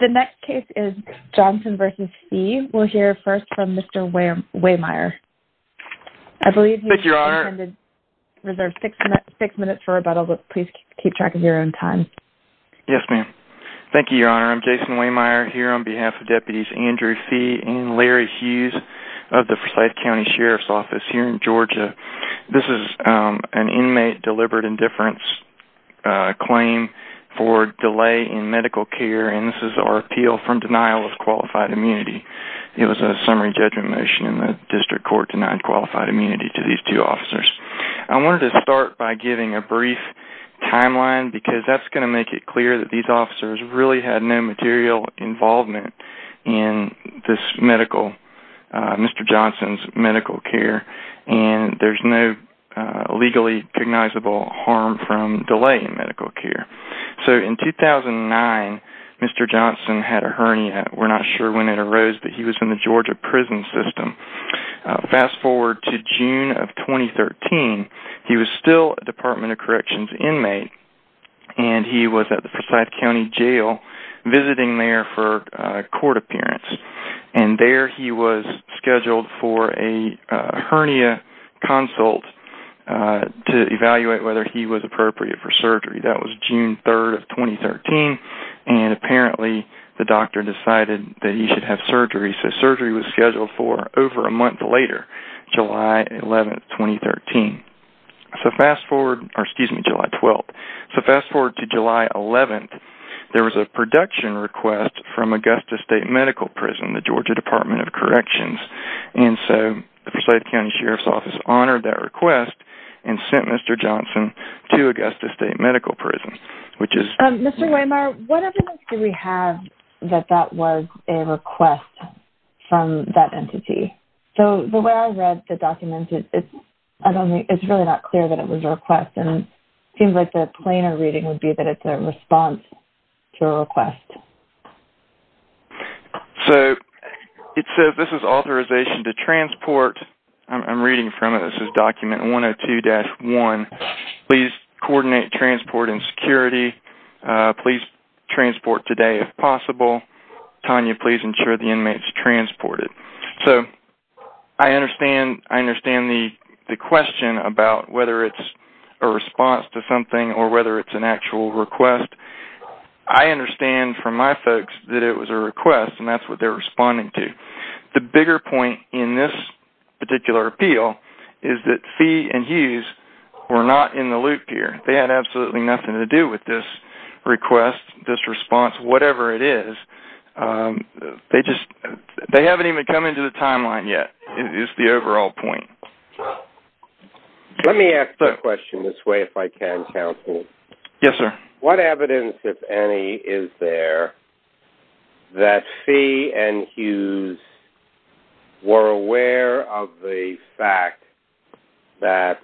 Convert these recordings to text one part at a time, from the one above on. The next case is Johnson v. Fee. We'll hear first from Mr. Wehmeyer. I believe you have six minutes for rebuttal, but please keep track of your own time. Yes, ma'am. Thank you, Your Honor. I'm Jason Wehmeyer here on behalf of Deputies Andrew Fee and Larry Hughes of the Forsyth County Sheriff's Office here in Georgia. This is an inmate deliberate indifference claim for delay in medical care, and this is our appeal from denial of qualified immunity. It was a summary judgment motion, and the district court denied qualified immunity to these two officers. I wanted to start by giving a brief timeline, because that's going to make it clear that these officers really had no material involvement in this medical, Mr. Johnson's medical care. There's no legally recognizable harm from delay in medical care. In 2009, Mr. Johnson had a hernia. We're not sure when it arose, but he was in the Georgia prison system. Fast forward to June of 2013, he was still a Department of Corrections inmate, and he was at the Forsyth County Jail visiting there for a court appearance. There he was scheduled for a hernia consult to evaluate whether he was appropriate for surgery. That was June 3rd of 2013, and apparently the doctor decided that he should have surgery, so surgery was scheduled for over a month later, July 11th, 2013. Fast forward to July 11th, there was a production request from Augusta State Medical Prison, the Georgia Department of Corrections. The Forsyth County Sheriff's Office honored that request and sent Mr. Johnson to Augusta State Medical Prison. Mr. Weimar, what evidence do we have that that was a request from that entity? The way I read the document, it's really not clear that it was a request. It seems like the plainer reading would be that it's a response to a request. This is authorization to transport. I'm reading from it. This is document 102-1. Please coordinate transport and security. Please transport today if possible. Tanya, please ensure the inmate is transported. I understand the question about whether it's a response to something or whether it's an actual request. I understand from my folks that it was a request, and that's what they're responding to. The bigger point in this particular appeal is that Fee and Hughes were not in the loop here. They had absolutely nothing to do with this request, this response, whatever it is. They haven't even come into the timeline yet is the overall point. Let me ask the question this way if I can, counsel. Yes, sir. What evidence, if any, is there that Fee and Hughes were aware of the fact that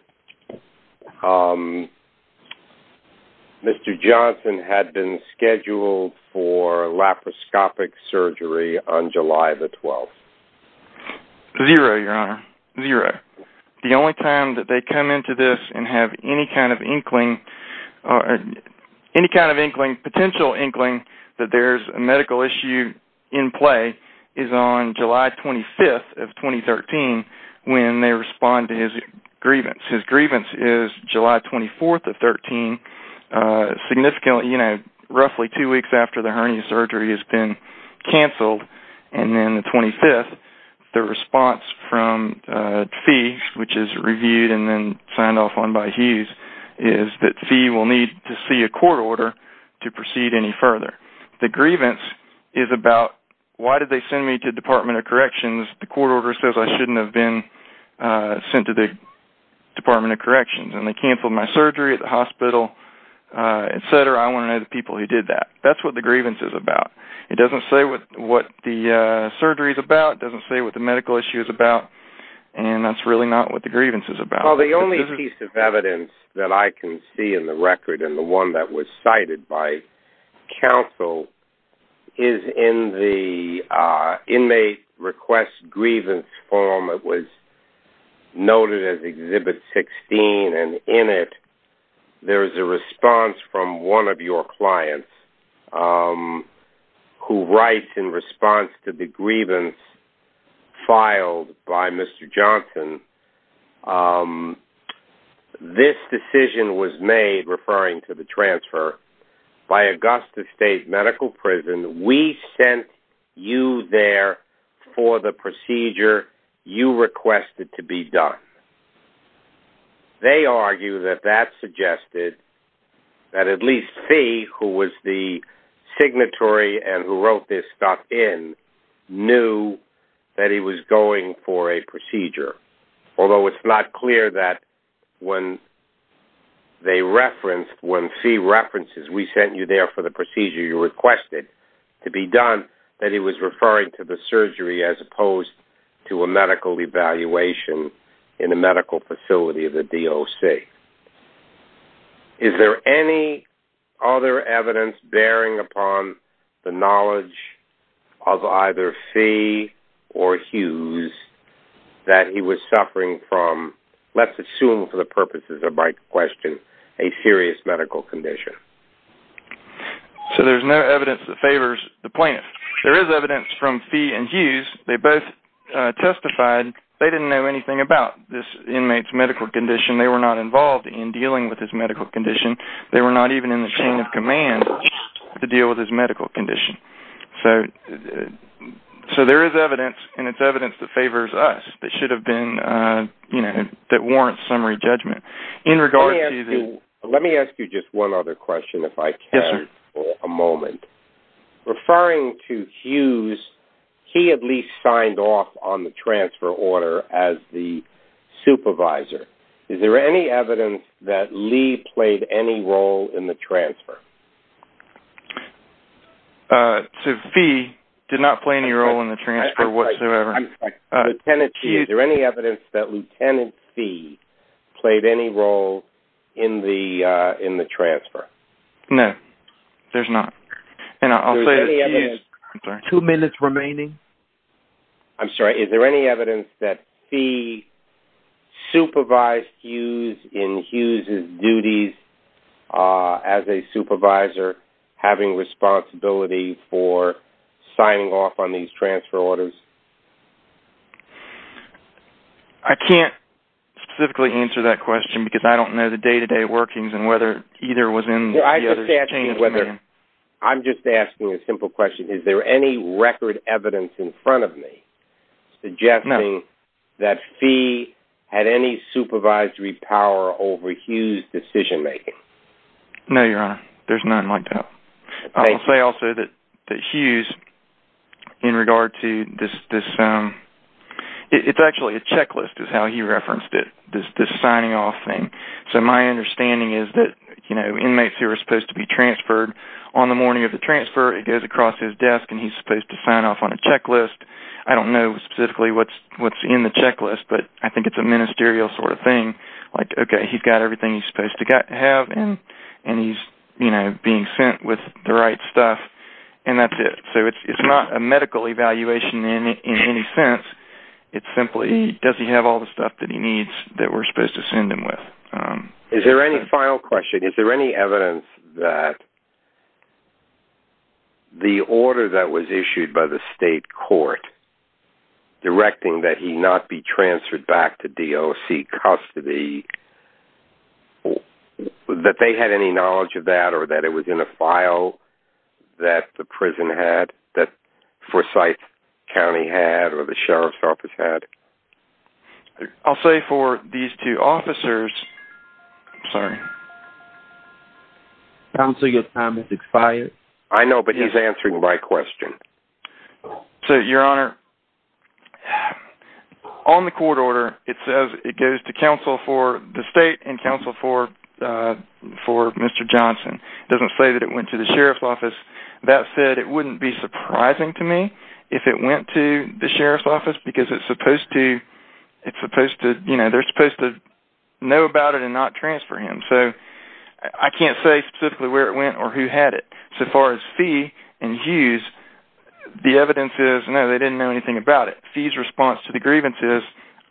Mr. Johnson had been scheduled for laparoscopic surgery on July the 12th? Zero, Your Honor. Zero. The only time that they come into this and have any kind of potential inkling that there's a medical issue in play is on July 25th of 2013 when they respond to his grievance. His grievance is July 24th of 2013, roughly two weeks after the hernia surgery has been canceled. And then the 25th, the response from Fee, which is reviewed and then signed off on by Hughes, is that Fee will need to see a court order to proceed any further. The grievance is about why did they send me to the Department of Corrections? The court order says I shouldn't have been sent to the Department of Corrections. And they canceled my surgery at the hospital, et cetera. I want to know the people who did that. That's what the grievance is about. It doesn't say what the surgery is about. It doesn't say what the medical issue is about. And that's really not what the grievance is about. Well, the only piece of evidence that I can see in the record and the one that was cited by counsel is in the inmate request grievance form that was noted as Exhibit 16. And in it, there is a response from one of your clients who writes in response to the grievance filed by Mr. Johnson. This decision was made, referring to the transfer, by Augusta State Medical Prison. We sent you there for the procedure you requested to be done. They argue that that suggested that at least C, who was the signatory and who wrote this stuff in, knew that he was going for a procedure. Although it's not clear that when they referenced, when C references, we sent you there for the procedure you requested to be done, that he was referring to the surgery as opposed to a medical evaluation in a medical facility of the DOC. Is there any other evidence bearing upon the knowledge of either C or Hughes that he was suffering from, let's assume for the purposes of my question, a serious medical condition? So there's no evidence that favors the plaintiff. There is evidence from C and Hughes. They both testified they didn't know anything about this inmate's medical condition. They were not involved in dealing with his medical condition. They were not even in the chain of command to deal with his medical condition. So there is evidence, and it's evidence that favors us that should have been, you know, that warrants summary judgment. Let me ask you just one other question if I can for a moment. Referring to Hughes, he at least signed off on the transfer order as the supervisor. Is there any evidence that Lee played any role in the transfer? C did not play any role in the transfer whatsoever. Lieutenant C, is there any evidence that Lieutenant C played any role in the transfer? No, there's not. And I'll say that Hughes, two minutes remaining. I'm sorry, is there any evidence that C supervised Hughes in Hughes' duties as a supervisor, having responsibility for signing off on these transfer orders? I can't specifically answer that question because I don't know the day-to-day workings and whether either was in the other chain of command. I'm just asking a simple question. Is there any record evidence in front of me suggesting that C had any supervisory power over Hughes' decision making? No, Your Honor. There's none like that. I'll say also that Hughes, in regard to this, it's actually a checklist is how he referenced it, this signing off thing. So my understanding is that inmates who are supposed to be transferred, on the morning of the transfer, it goes across his desk and he's supposed to sign off on a checklist. I don't know specifically what's in the checklist, but I think it's a ministerial sort of thing. Like, okay, he's got everything he's supposed to have and he's being sent with the right stuff and that's it. So it's not a medical evaluation in any sense. It's simply, does he have all the stuff that he needs that we're supposed to send him with? Is there any final question? Is there any evidence that the order that was issued by the state court directing that he not be transferred back to DOC custody, that they had any knowledge of that or that it was in a file that the prison had, that Forsyth County had or the sheriff's office had? I'll say for these two officers, I'm sorry. Counsel, your time has expired. I know, but he's answering my question. So, Your Honor, on the court order, it says it goes to counsel for the state and counsel for Mr. Johnson. It doesn't say that it went to the sheriff's office. That said, it wouldn't be surprising to me if it went to the sheriff's office, because they're supposed to know about it and not transfer him. So I can't say specifically where it went or who had it. So far as Fee and Hughes, the evidence is, no, they didn't know anything about it. Fee's response to the grievance is,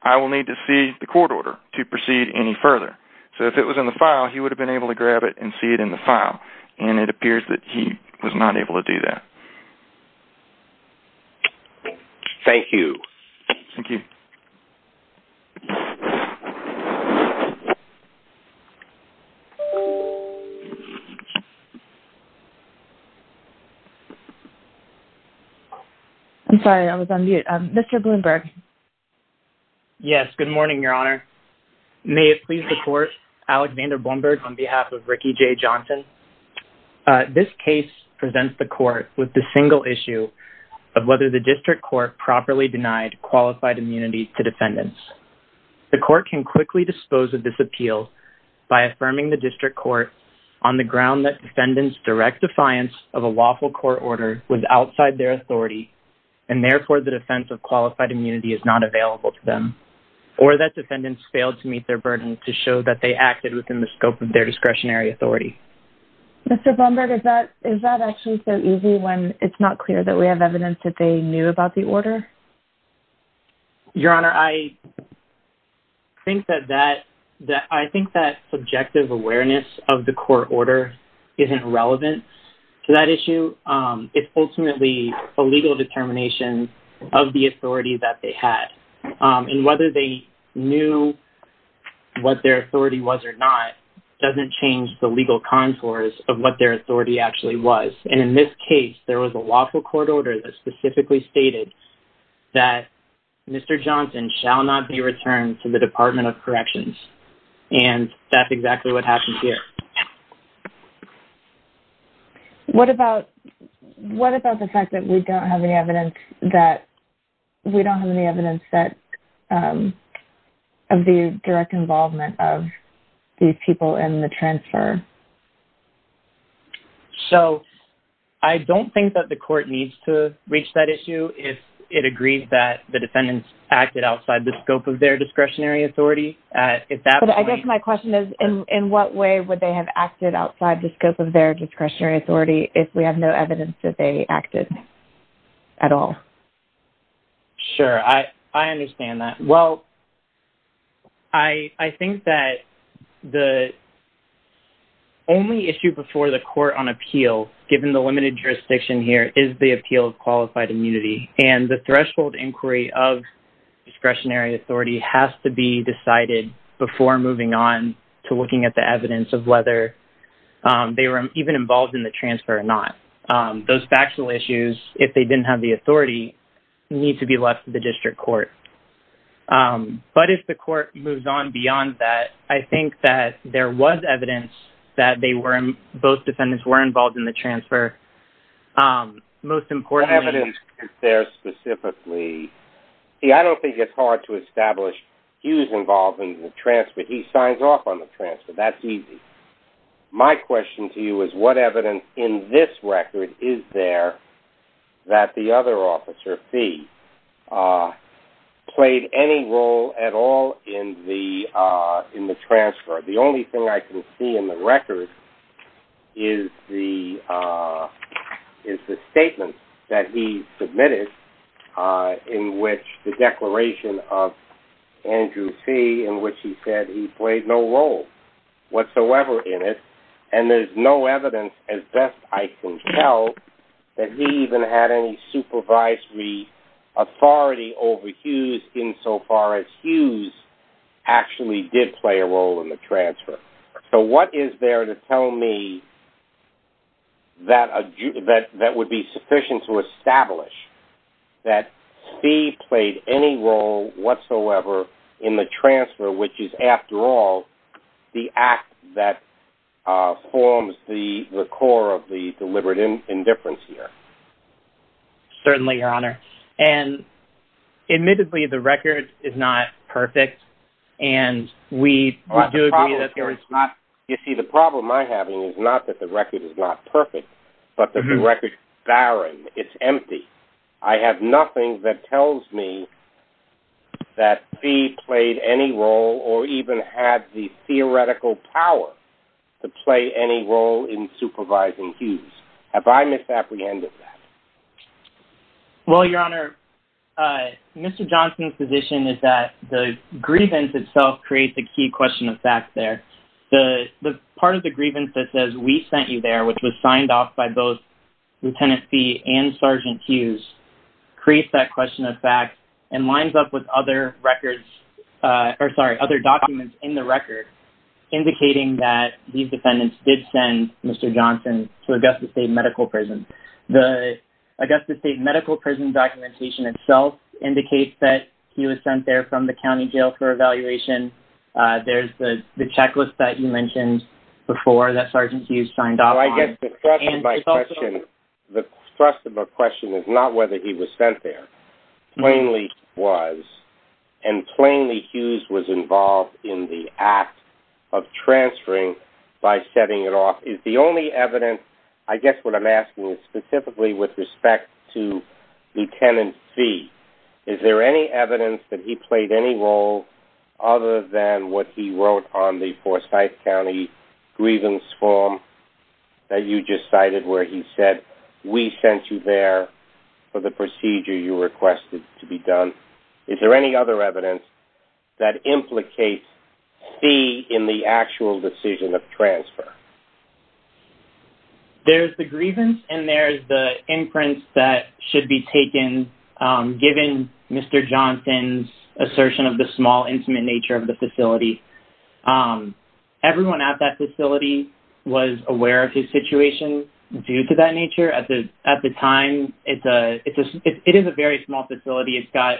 I will need to see the court order to proceed any further. So if it was in the file, he would have been able to grab it and see it in the file, and it appears that he was not able to do that. Thank you. Thank you. I'm sorry. I was on mute. Mr. Bloomberg. Yes. Good morning, Your Honor. May it please the court, Alexander Bloomberg on behalf of Ricky J. Johnson. This case presents the court with the single issue of whether the district court properly denied qualified immunity to defendants. The court can quickly dispose of this appeal by affirming the district court on the ground that defendants' direct defiance of a lawful court order was outside their authority, and therefore the defense of qualified immunity is not available to them, or that defendants failed to meet their burden to show that they acted within the scope of their discretionary authority. Mr. Bloomberg, is that actually so easy when it's not clear that we have evidence that they knew about the order? Your Honor, I think that subjective awareness of the court order isn't relevant to that issue. It's ultimately a legal determination of the authority that they had, and whether they knew what their authority was or not doesn't change the legal contours of what their authority actually was. In this case, there was a lawful court order that specifically stated that Mr. Johnson shall not be returned to the Department of Corrections, and that's exactly what happened here. What about the fact that we don't have any evidence of the direct involvement of these people in the transfer? So, I don't think that the court needs to reach that issue if it agrees that the defendants acted outside the scope of their discretionary authority. But I guess my question is, in what way would they have acted outside the scope of their discretionary authority if we have no evidence that they acted at all? Sure, I understand that. Well, I think that the only issue before the court on appeal, given the limited jurisdiction here, is the appeal of qualified immunity. And the threshold inquiry of discretionary authority has to be decided before moving on to looking at the evidence of whether they were even involved in the transfer or not. Those factual issues, if they didn't have the authority, need to be left to the district court. But if the court moves on beyond that, I think that there was evidence that both defendants were involved in the transfer. What evidence is there specifically? See, I don't think it's hard to establish he was involved in the transfer. He signs off on the transfer. That's easy. My question to you is, what evidence in this record is there that the other officer, Fee, played any role at all in the transfer? The only thing I can see in the record is the statement that he submitted in which the declaration of Andrew Fee in which he said he played no role whatsoever in it. And there's no evidence, as best I can tell, that he even had any supervisory authority over Hughes insofar as Hughes actually did play a role in the transfer. So what is there to tell me that would be sufficient to establish that Fee played any role whatsoever in the transfer, which is, after all, the act that forms the core of the deliberate indifference here? Certainly, Your Honor. And admittedly, the record is not perfect, and we do agree that there is not... You see, the problem I have is not that the record is not perfect, but that the record is barren. It's empty. I have nothing that tells me that Fee played any role or even had the theoretical power to play any role in supervising Hughes. Have I misapprehended that? Well, Your Honor, Mr. Johnson's position is that the grievance itself creates a key question of fact there. The part of the grievance that says, we sent you there, which was signed off by both Lieutenant Fee and Sergeant Hughes, creates that question of fact and lines up with other documents in the record indicating that these defendants did send Mr. Johnson to Augusta State Medical Prison. The Augusta State Medical Prison documentation itself indicates that he was sent there from the county jail for evaluation. There's the checklist that you mentioned before that Sergeant Hughes signed off on. The thrust of my question is not whether he was sent there. Plainly was, and plainly Hughes was involved in the act of transferring by setting it off. I guess what I'm asking is specifically with respect to Lieutenant Fee, is there any evidence that he played any role other than what he wrote on the Forsyth County grievance form that you just cited where he said, we sent you there for the procedure you requested to be done? Is there any other evidence that implicates Fee in the actual decision of transfer? There's the grievance and there's the imprints that should be taken given Mr. Johnson's assertion of the small intimate nature of the facility. Everyone at that facility was aware of his situation due to that nature. At the time, it is a very small facility. It's got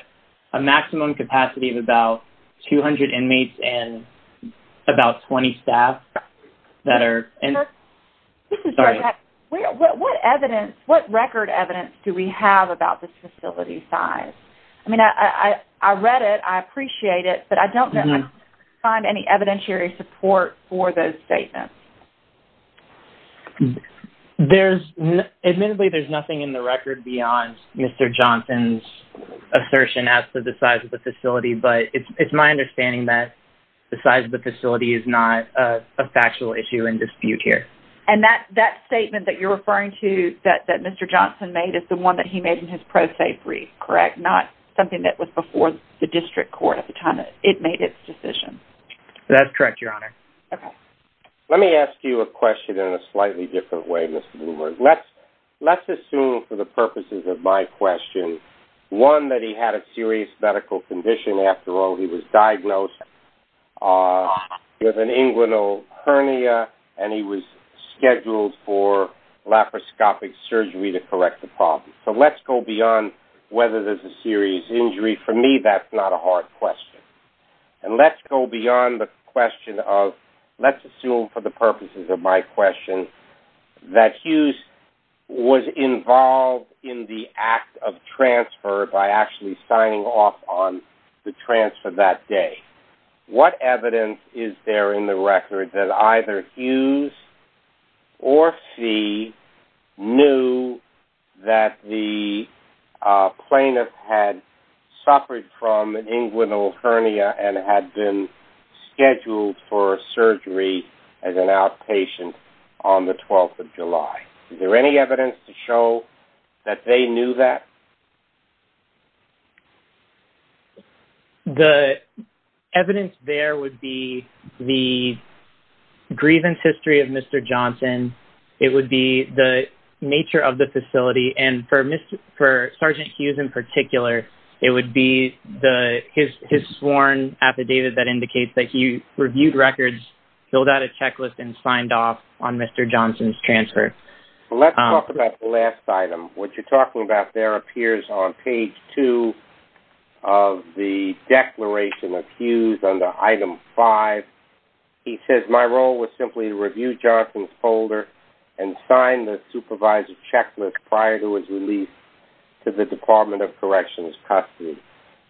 a maximum capacity of about 200 inmates and about 20 staff. What record evidence do we have about this facility size? I mean, I read it, I appreciate it, but I don't find any evidentiary support for those statements. Admittedly, there's nothing in the record beyond Mr. Johnson's assertion as to the size of the facility, but it's my understanding that the size of the facility is not a factual issue in dispute here. And that statement that you're referring to that Mr. Johnson made is the one that he made in his pro se brief, correct? Not something that was before the district court at the time it made its decision? That's correct, Your Honor. Let me ask you a question in a slightly different way, Mr. Bloomberg. Let's assume for the purposes of my question, one, that he had a serious medical condition. After all, he was diagnosed with an inguinal hernia and he was scheduled for laparoscopic surgery to correct the problem. So let's go beyond whether there's a serious injury. For me, that's not a hard question. And let's go beyond the question of, let's assume for the purposes of my question, that Hughes was involved in the act of transfer by actually signing off on the transfer that day. What evidence is there in the record that either Hughes or Fee knew that the plaintiff had suffered from an inguinal hernia and had been scheduled for surgery as an outpatient on the 12th of July? Is there any evidence to show that they knew that? The evidence there would be the grievance history of Mr. Johnson. It would be the nature of the facility. And for Sergeant Hughes in particular, it would be his sworn affidavit that indicates that he reviewed records, filled out a checklist, and signed off on Mr. Johnson's transfer. Let's talk about the last item. What you're talking about there appears on page 2 of the declaration of Hughes under item 5. He says, my role was simply to review Johnson's folder and sign the supervisor checklist prior to his release to the Department of Corrections custody.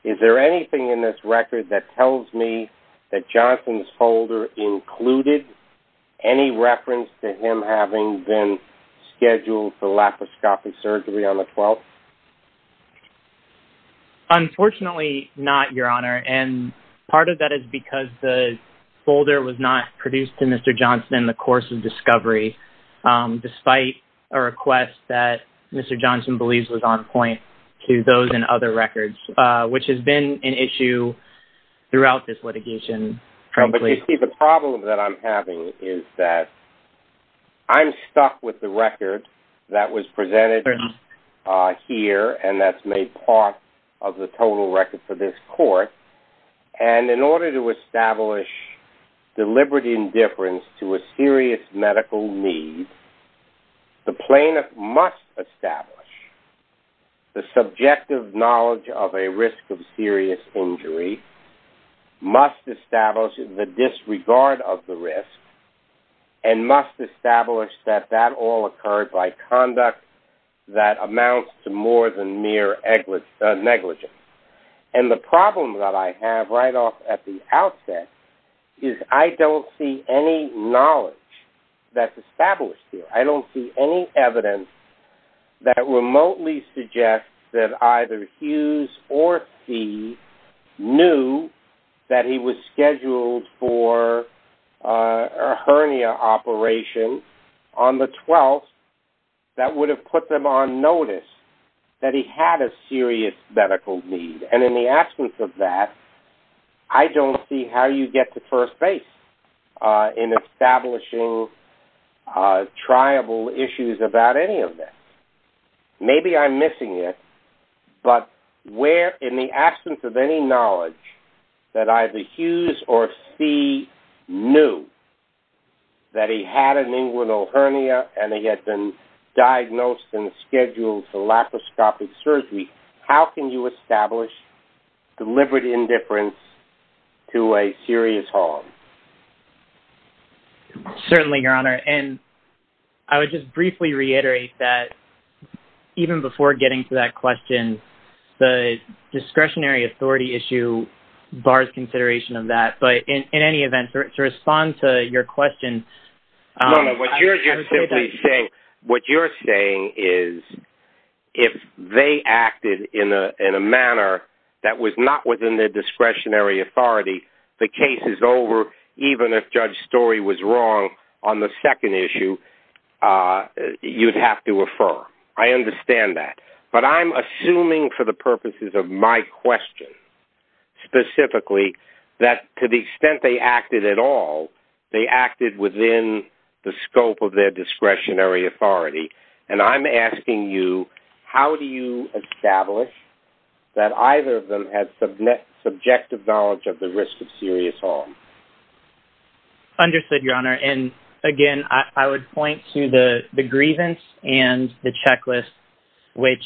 Is there anything in this record that tells me that Johnson's folder included any reference to him having been scheduled for laparoscopic surgery on the 12th? Unfortunately, not, Your Honor. And part of that is because the folder was not produced to Mr. Johnson in the course of discovery, despite a request that Mr. Johnson believes was on point to those in other records, which has been an issue throughout this litigation, frankly. You see, the problem that I'm having is that I'm stuck with the record that was presented here and that's made part of the total record for this court. And in order to establish deliberate indifference to a serious medical need, the plaintiff must establish the subjective knowledge of a risk of serious injury, must establish the disregard of the risk, and must establish that that all occurred by conduct that amounts to more than mere negligence. And the problem that I have right off at the outset is I don't see any knowledge that's established here. I don't see any evidence that remotely suggests that either Hughes or See knew that he was scheduled for a hernia operation on the 12th that would have put them on notice that he had a serious medical need. And in the absence of that, I don't see how you get to first base in establishing triable issues about any of this. Maybe I'm missing it, but where in the absence of any knowledge that either Hughes or See knew that he had an inguinal hernia and he had been diagnosed and scheduled for laparoscopic surgery, how can you establish deliberate indifference to a serious harm? Certainly, Your Honor. And I would just briefly reiterate that even before getting to that question, the discretionary authority issue bars consideration of that. But in any event, to respond to your question... What you're saying is if they acted in a manner that was not within their discretionary authority, the case is over, even if Judge Story was wrong on the second issue, you'd have to refer. I understand that. But I'm assuming for the purposes of my question, specifically, that to the extent they acted at all, they acted within the scope of their discretionary authority. And I'm asking you, how do you establish that either of them had subjective knowledge of the risk of serious harm? Understood, Your Honor. And again, I would point to the grievance and the checklist, which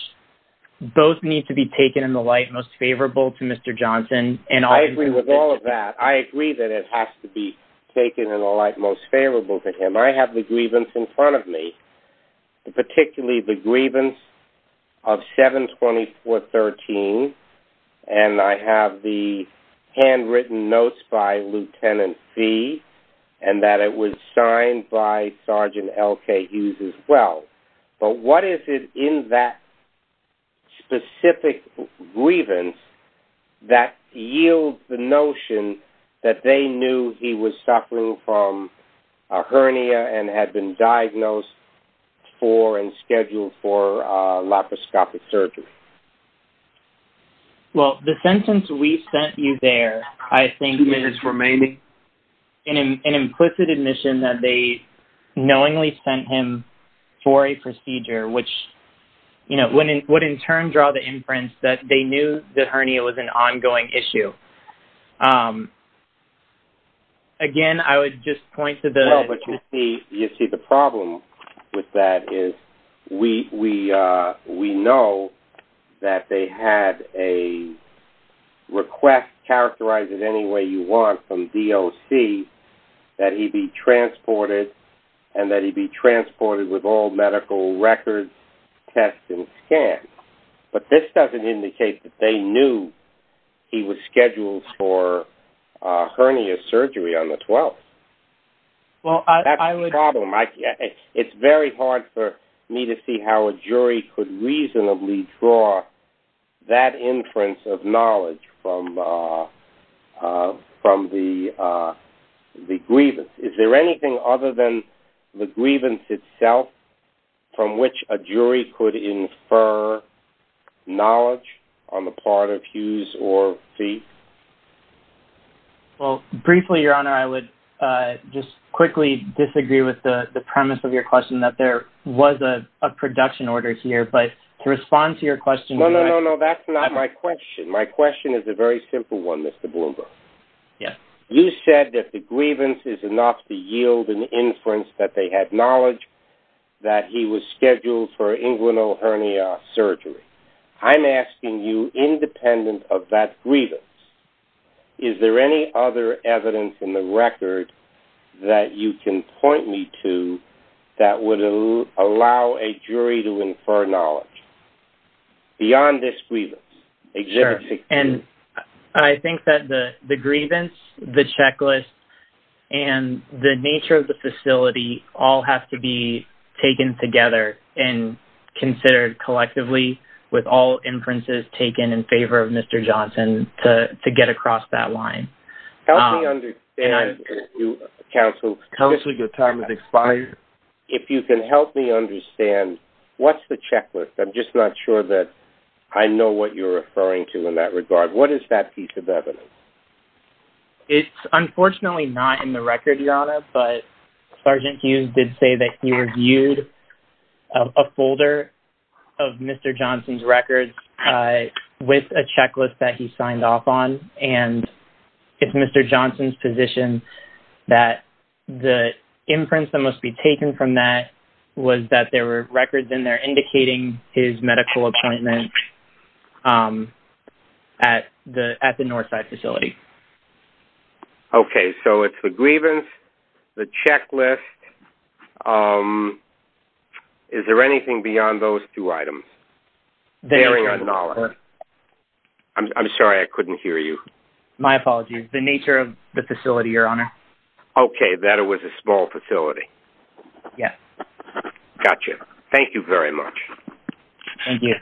both need to be taken in the light most favorable to Mr. Johnson. I agree with all of that. I agree that it has to be taken in the light most favorable to him. I have the grievance in front of me, particularly the grievance of 72413, and I have the handwritten notes by Lieutenant Fee and that it was signed by Sergeant L.K. Hughes as well. But what is it in that specific grievance that yields the notion that they knew he was suffering from a hernia and had been diagnosed for and scheduled for laparoscopic surgery? Well, the sentence, we sent you there, I think is an implicit admission that they knowingly sent him for a procedure, which would in turn draw the inference that they knew the hernia was an ongoing issue. Again, I would just point to the... That's the problem. It's very hard for me to see how a jury could reasonably draw that inference of knowledge from the grievance. Is there anything other than the grievance itself from which a jury could infer knowledge on the part of Hughes or Fee? Well, briefly, Your Honor, I would just quickly disagree with the premise of your question that there was a production order here, but to respond to your question... No, no, no, no. That's not my question. My question is a very simple one, Mr. Bloomberg. Yes. You said that the grievance is enough to yield an inference that they had knowledge that he was scheduled for inguinal hernia surgery. I'm asking you, independent of that grievance, is there any other evidence in the record that you can point me to that would allow a jury to infer knowledge beyond this grievance? Sure. And I think that the grievance, the checklist, and the nature of the facility all have to be taken together and considered collectively with all inferences taken in favor of Mr. Johnson to get across that line. Help me understand, counsel... Counsel, your time has expired. If you can help me understand, what's the checklist? I'm just not sure that I know what you're referring to in that regard. What is that piece of evidence? It's unfortunately not in the record, Your Honor, but Sergeant Hughes did say that he reviewed a folder of Mr. Johnson's records with a checklist that he signed off on, and it's Mr. Johnson's position that the inference that must be taken from that was that there were records in there indicating his medical appointment at the Northside facility. Okay, so it's the grievance, the checklist. Is there anything beyond those two items? The nature of the facility. I'm sorry, I couldn't hear you. My apologies. The nature of the facility, Your Honor. Okay, that it was a small facility. Yes. Gotcha. Thank you very much. Thank you.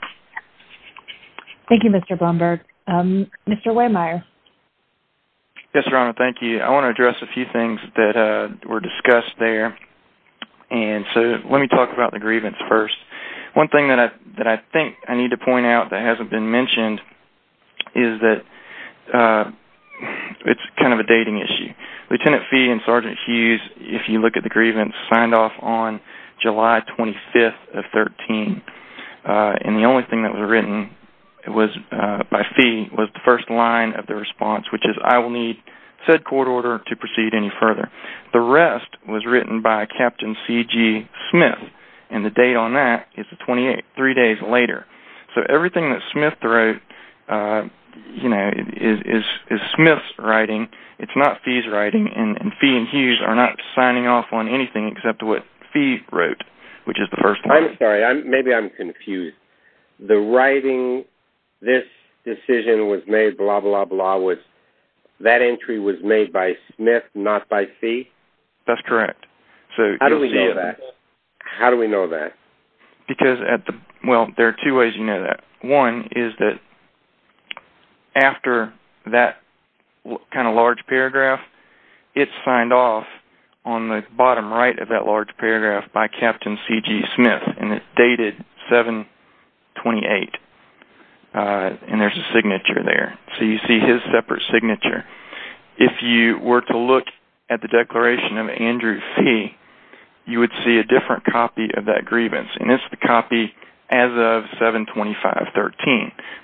Thank you, Mr. Blumberg. Mr. Waymire. Yes, Your Honor, thank you. I want to address a few things that were discussed there, and so let me talk about the grievance first. One thing that I think I need to point out that hasn't been mentioned is that it's kind of a dating issue. Lieutenant Fee and Sergeant Hughes, if you look at the grievance, signed off on July 25th of 2013, and the only thing that was written by Fee was the first line of the response, which is, I will need said court order to proceed any further. The rest was written by Captain C.G. Smith, and the date on that is three days later. So everything that Smith wrote is Smith's writing. It's not Fee's writing, and Fee and Hughes are not signing off on anything except what Fee wrote, which is the first line. I'm sorry. Maybe I'm confused. The writing, this decision was made, blah, blah, blah, that entry was made by Smith, not by Fee? That's correct. How do we know that? How do we know that? Well, there are two ways you know that. One is that after that kind of large paragraph, it's signed off on the bottom right of that large paragraph by Captain C.G. Smith, and it's dated 7-28, and there's a signature there. So you see his separate signature. If you were to look at the declaration of Andrew Fee, you would see a different copy of that grievance, and it's the copy as of 7-25-13.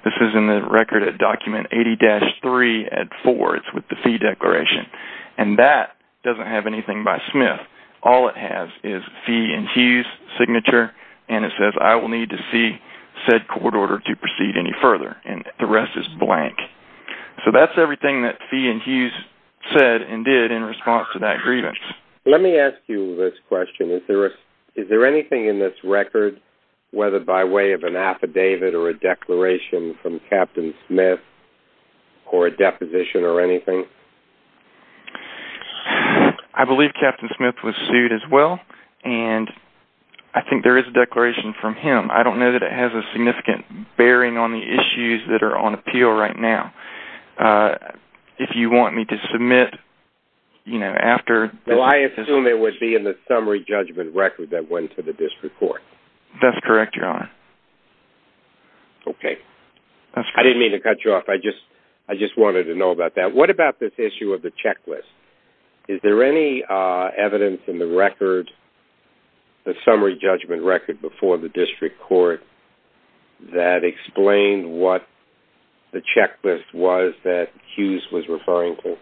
This is in the record at document 80-3 at 4. It's with the Fee Declaration, and that doesn't have anything by Smith. All it has is Fee and Hughes' signature, and it says, I will need to see said court order to proceed any further, and the rest is blank. So that's everything that Fee and Hughes said and did in response to that grievance. Let me ask you this question. Is there anything in this record, whether by way of an affidavit or a declaration from Captain Smith or a deposition or anything? I believe Captain Smith was sued as well, and I think there is a declaration from him. I don't know that it has a significant bearing on the issues that are on appeal right now. If you want me to submit, you know, after. Well, I assume it would be in the summary judgment record that went to the district court. That's correct, Your Honor. Okay. That's correct. I didn't mean to cut you off. I just wanted to know about that. What about this issue of the checklist? Is there any evidence in the record, the summary judgment record before the district court, that explained what the checklist was that Hughes was referring to?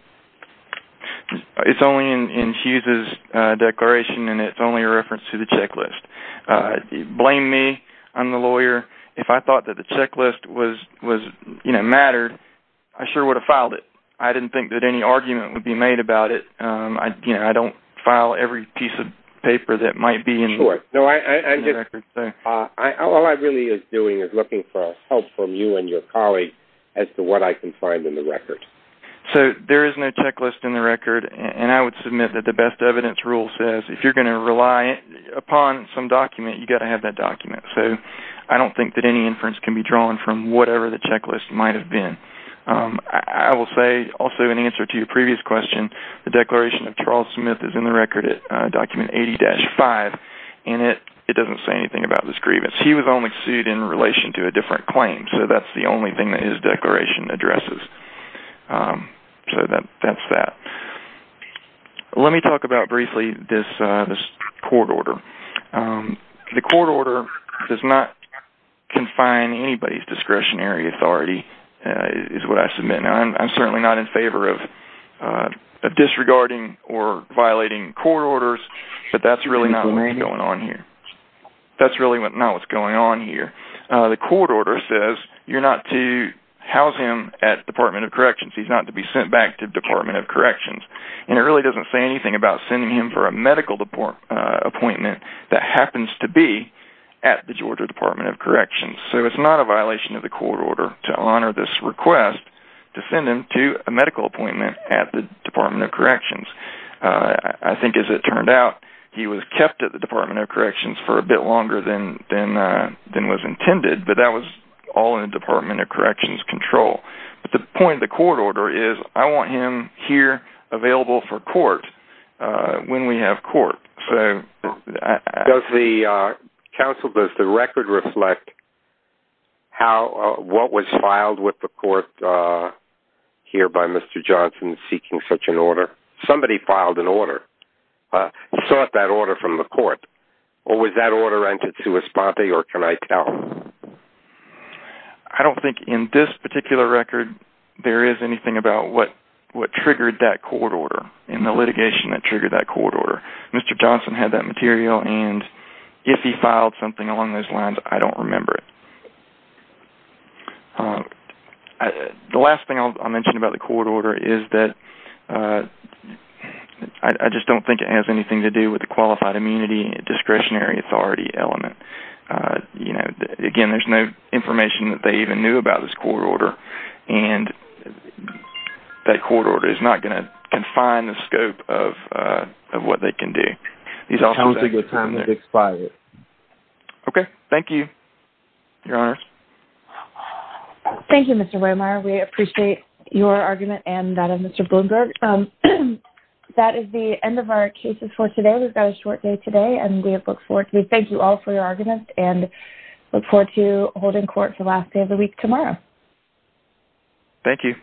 It's only in Hughes' declaration, and it's only a reference to the checklist. Blame me. I'm the lawyer. If I thought that the checklist mattered, I sure would have filed it. I didn't think that any argument would be made about it. I don't file every piece of paper that might be in the record. All I really is doing is looking for help from you and your colleagues as to what I can find in the record. So there is no checklist in the record, and I would submit that the best evidence rule says if you're going to rely upon some document, you've got to have that document. So I don't think that any inference can be drawn from whatever the checklist might have been. I will say, also in answer to your previous question, the declaration of Charles Smith is in the record document 80-5, and it doesn't say anything about this grievance. He was only sued in relation to a different claim, so that's the only thing that his declaration addresses. So that's that. Let me talk about briefly this court order. The court order does not confine anybody's discretionary authority is what I submit. I'm certainly not in favor of disregarding or violating court orders, but that's really not what's going on here. That's really not what's going on here. The court order says you're not to house him at the Department of Corrections. He's not to be sent back to the Department of Corrections. And it really doesn't say anything about sending him for a medical appointment that happens to be at the Georgia Department of Corrections. So it's not a violation of the court order to honor this request to send him to a medical appointment at the Department of Corrections. I think as it turned out, he was kept at the Department of Corrections for a bit longer than was intended, but that was all in the Department of Corrections control. But the point of the court order is I want him here available for court when we have court. Counsel, does the record reflect what was filed with the court here by Mr. Johnson seeking such an order? Somebody filed an order. You sought that order from the court. Was that order entered to a sponte or can I tell? I don't think in this particular record there is anything about what triggered that court order and the litigation that triggered that court order. Mr. Johnson had that material and if he filed something along those lines, I don't remember it. The last thing I'll mention about the court order is that I just don't think it has anything to do with the qualified immunity, discretionary authority element. Again, there's no information that they even knew about this court order and that court order is not going to confine the scope of what they can do. Okay, thank you, Your Honors. Thank you, Mr. Waymeyer. We appreciate your argument and that of Mr. Bloomberg. That is the end of our cases for today. We've got a short day today and we look forward to it. Thank you for your argument and we look forward to holding court for the last day of the week tomorrow. Thank you.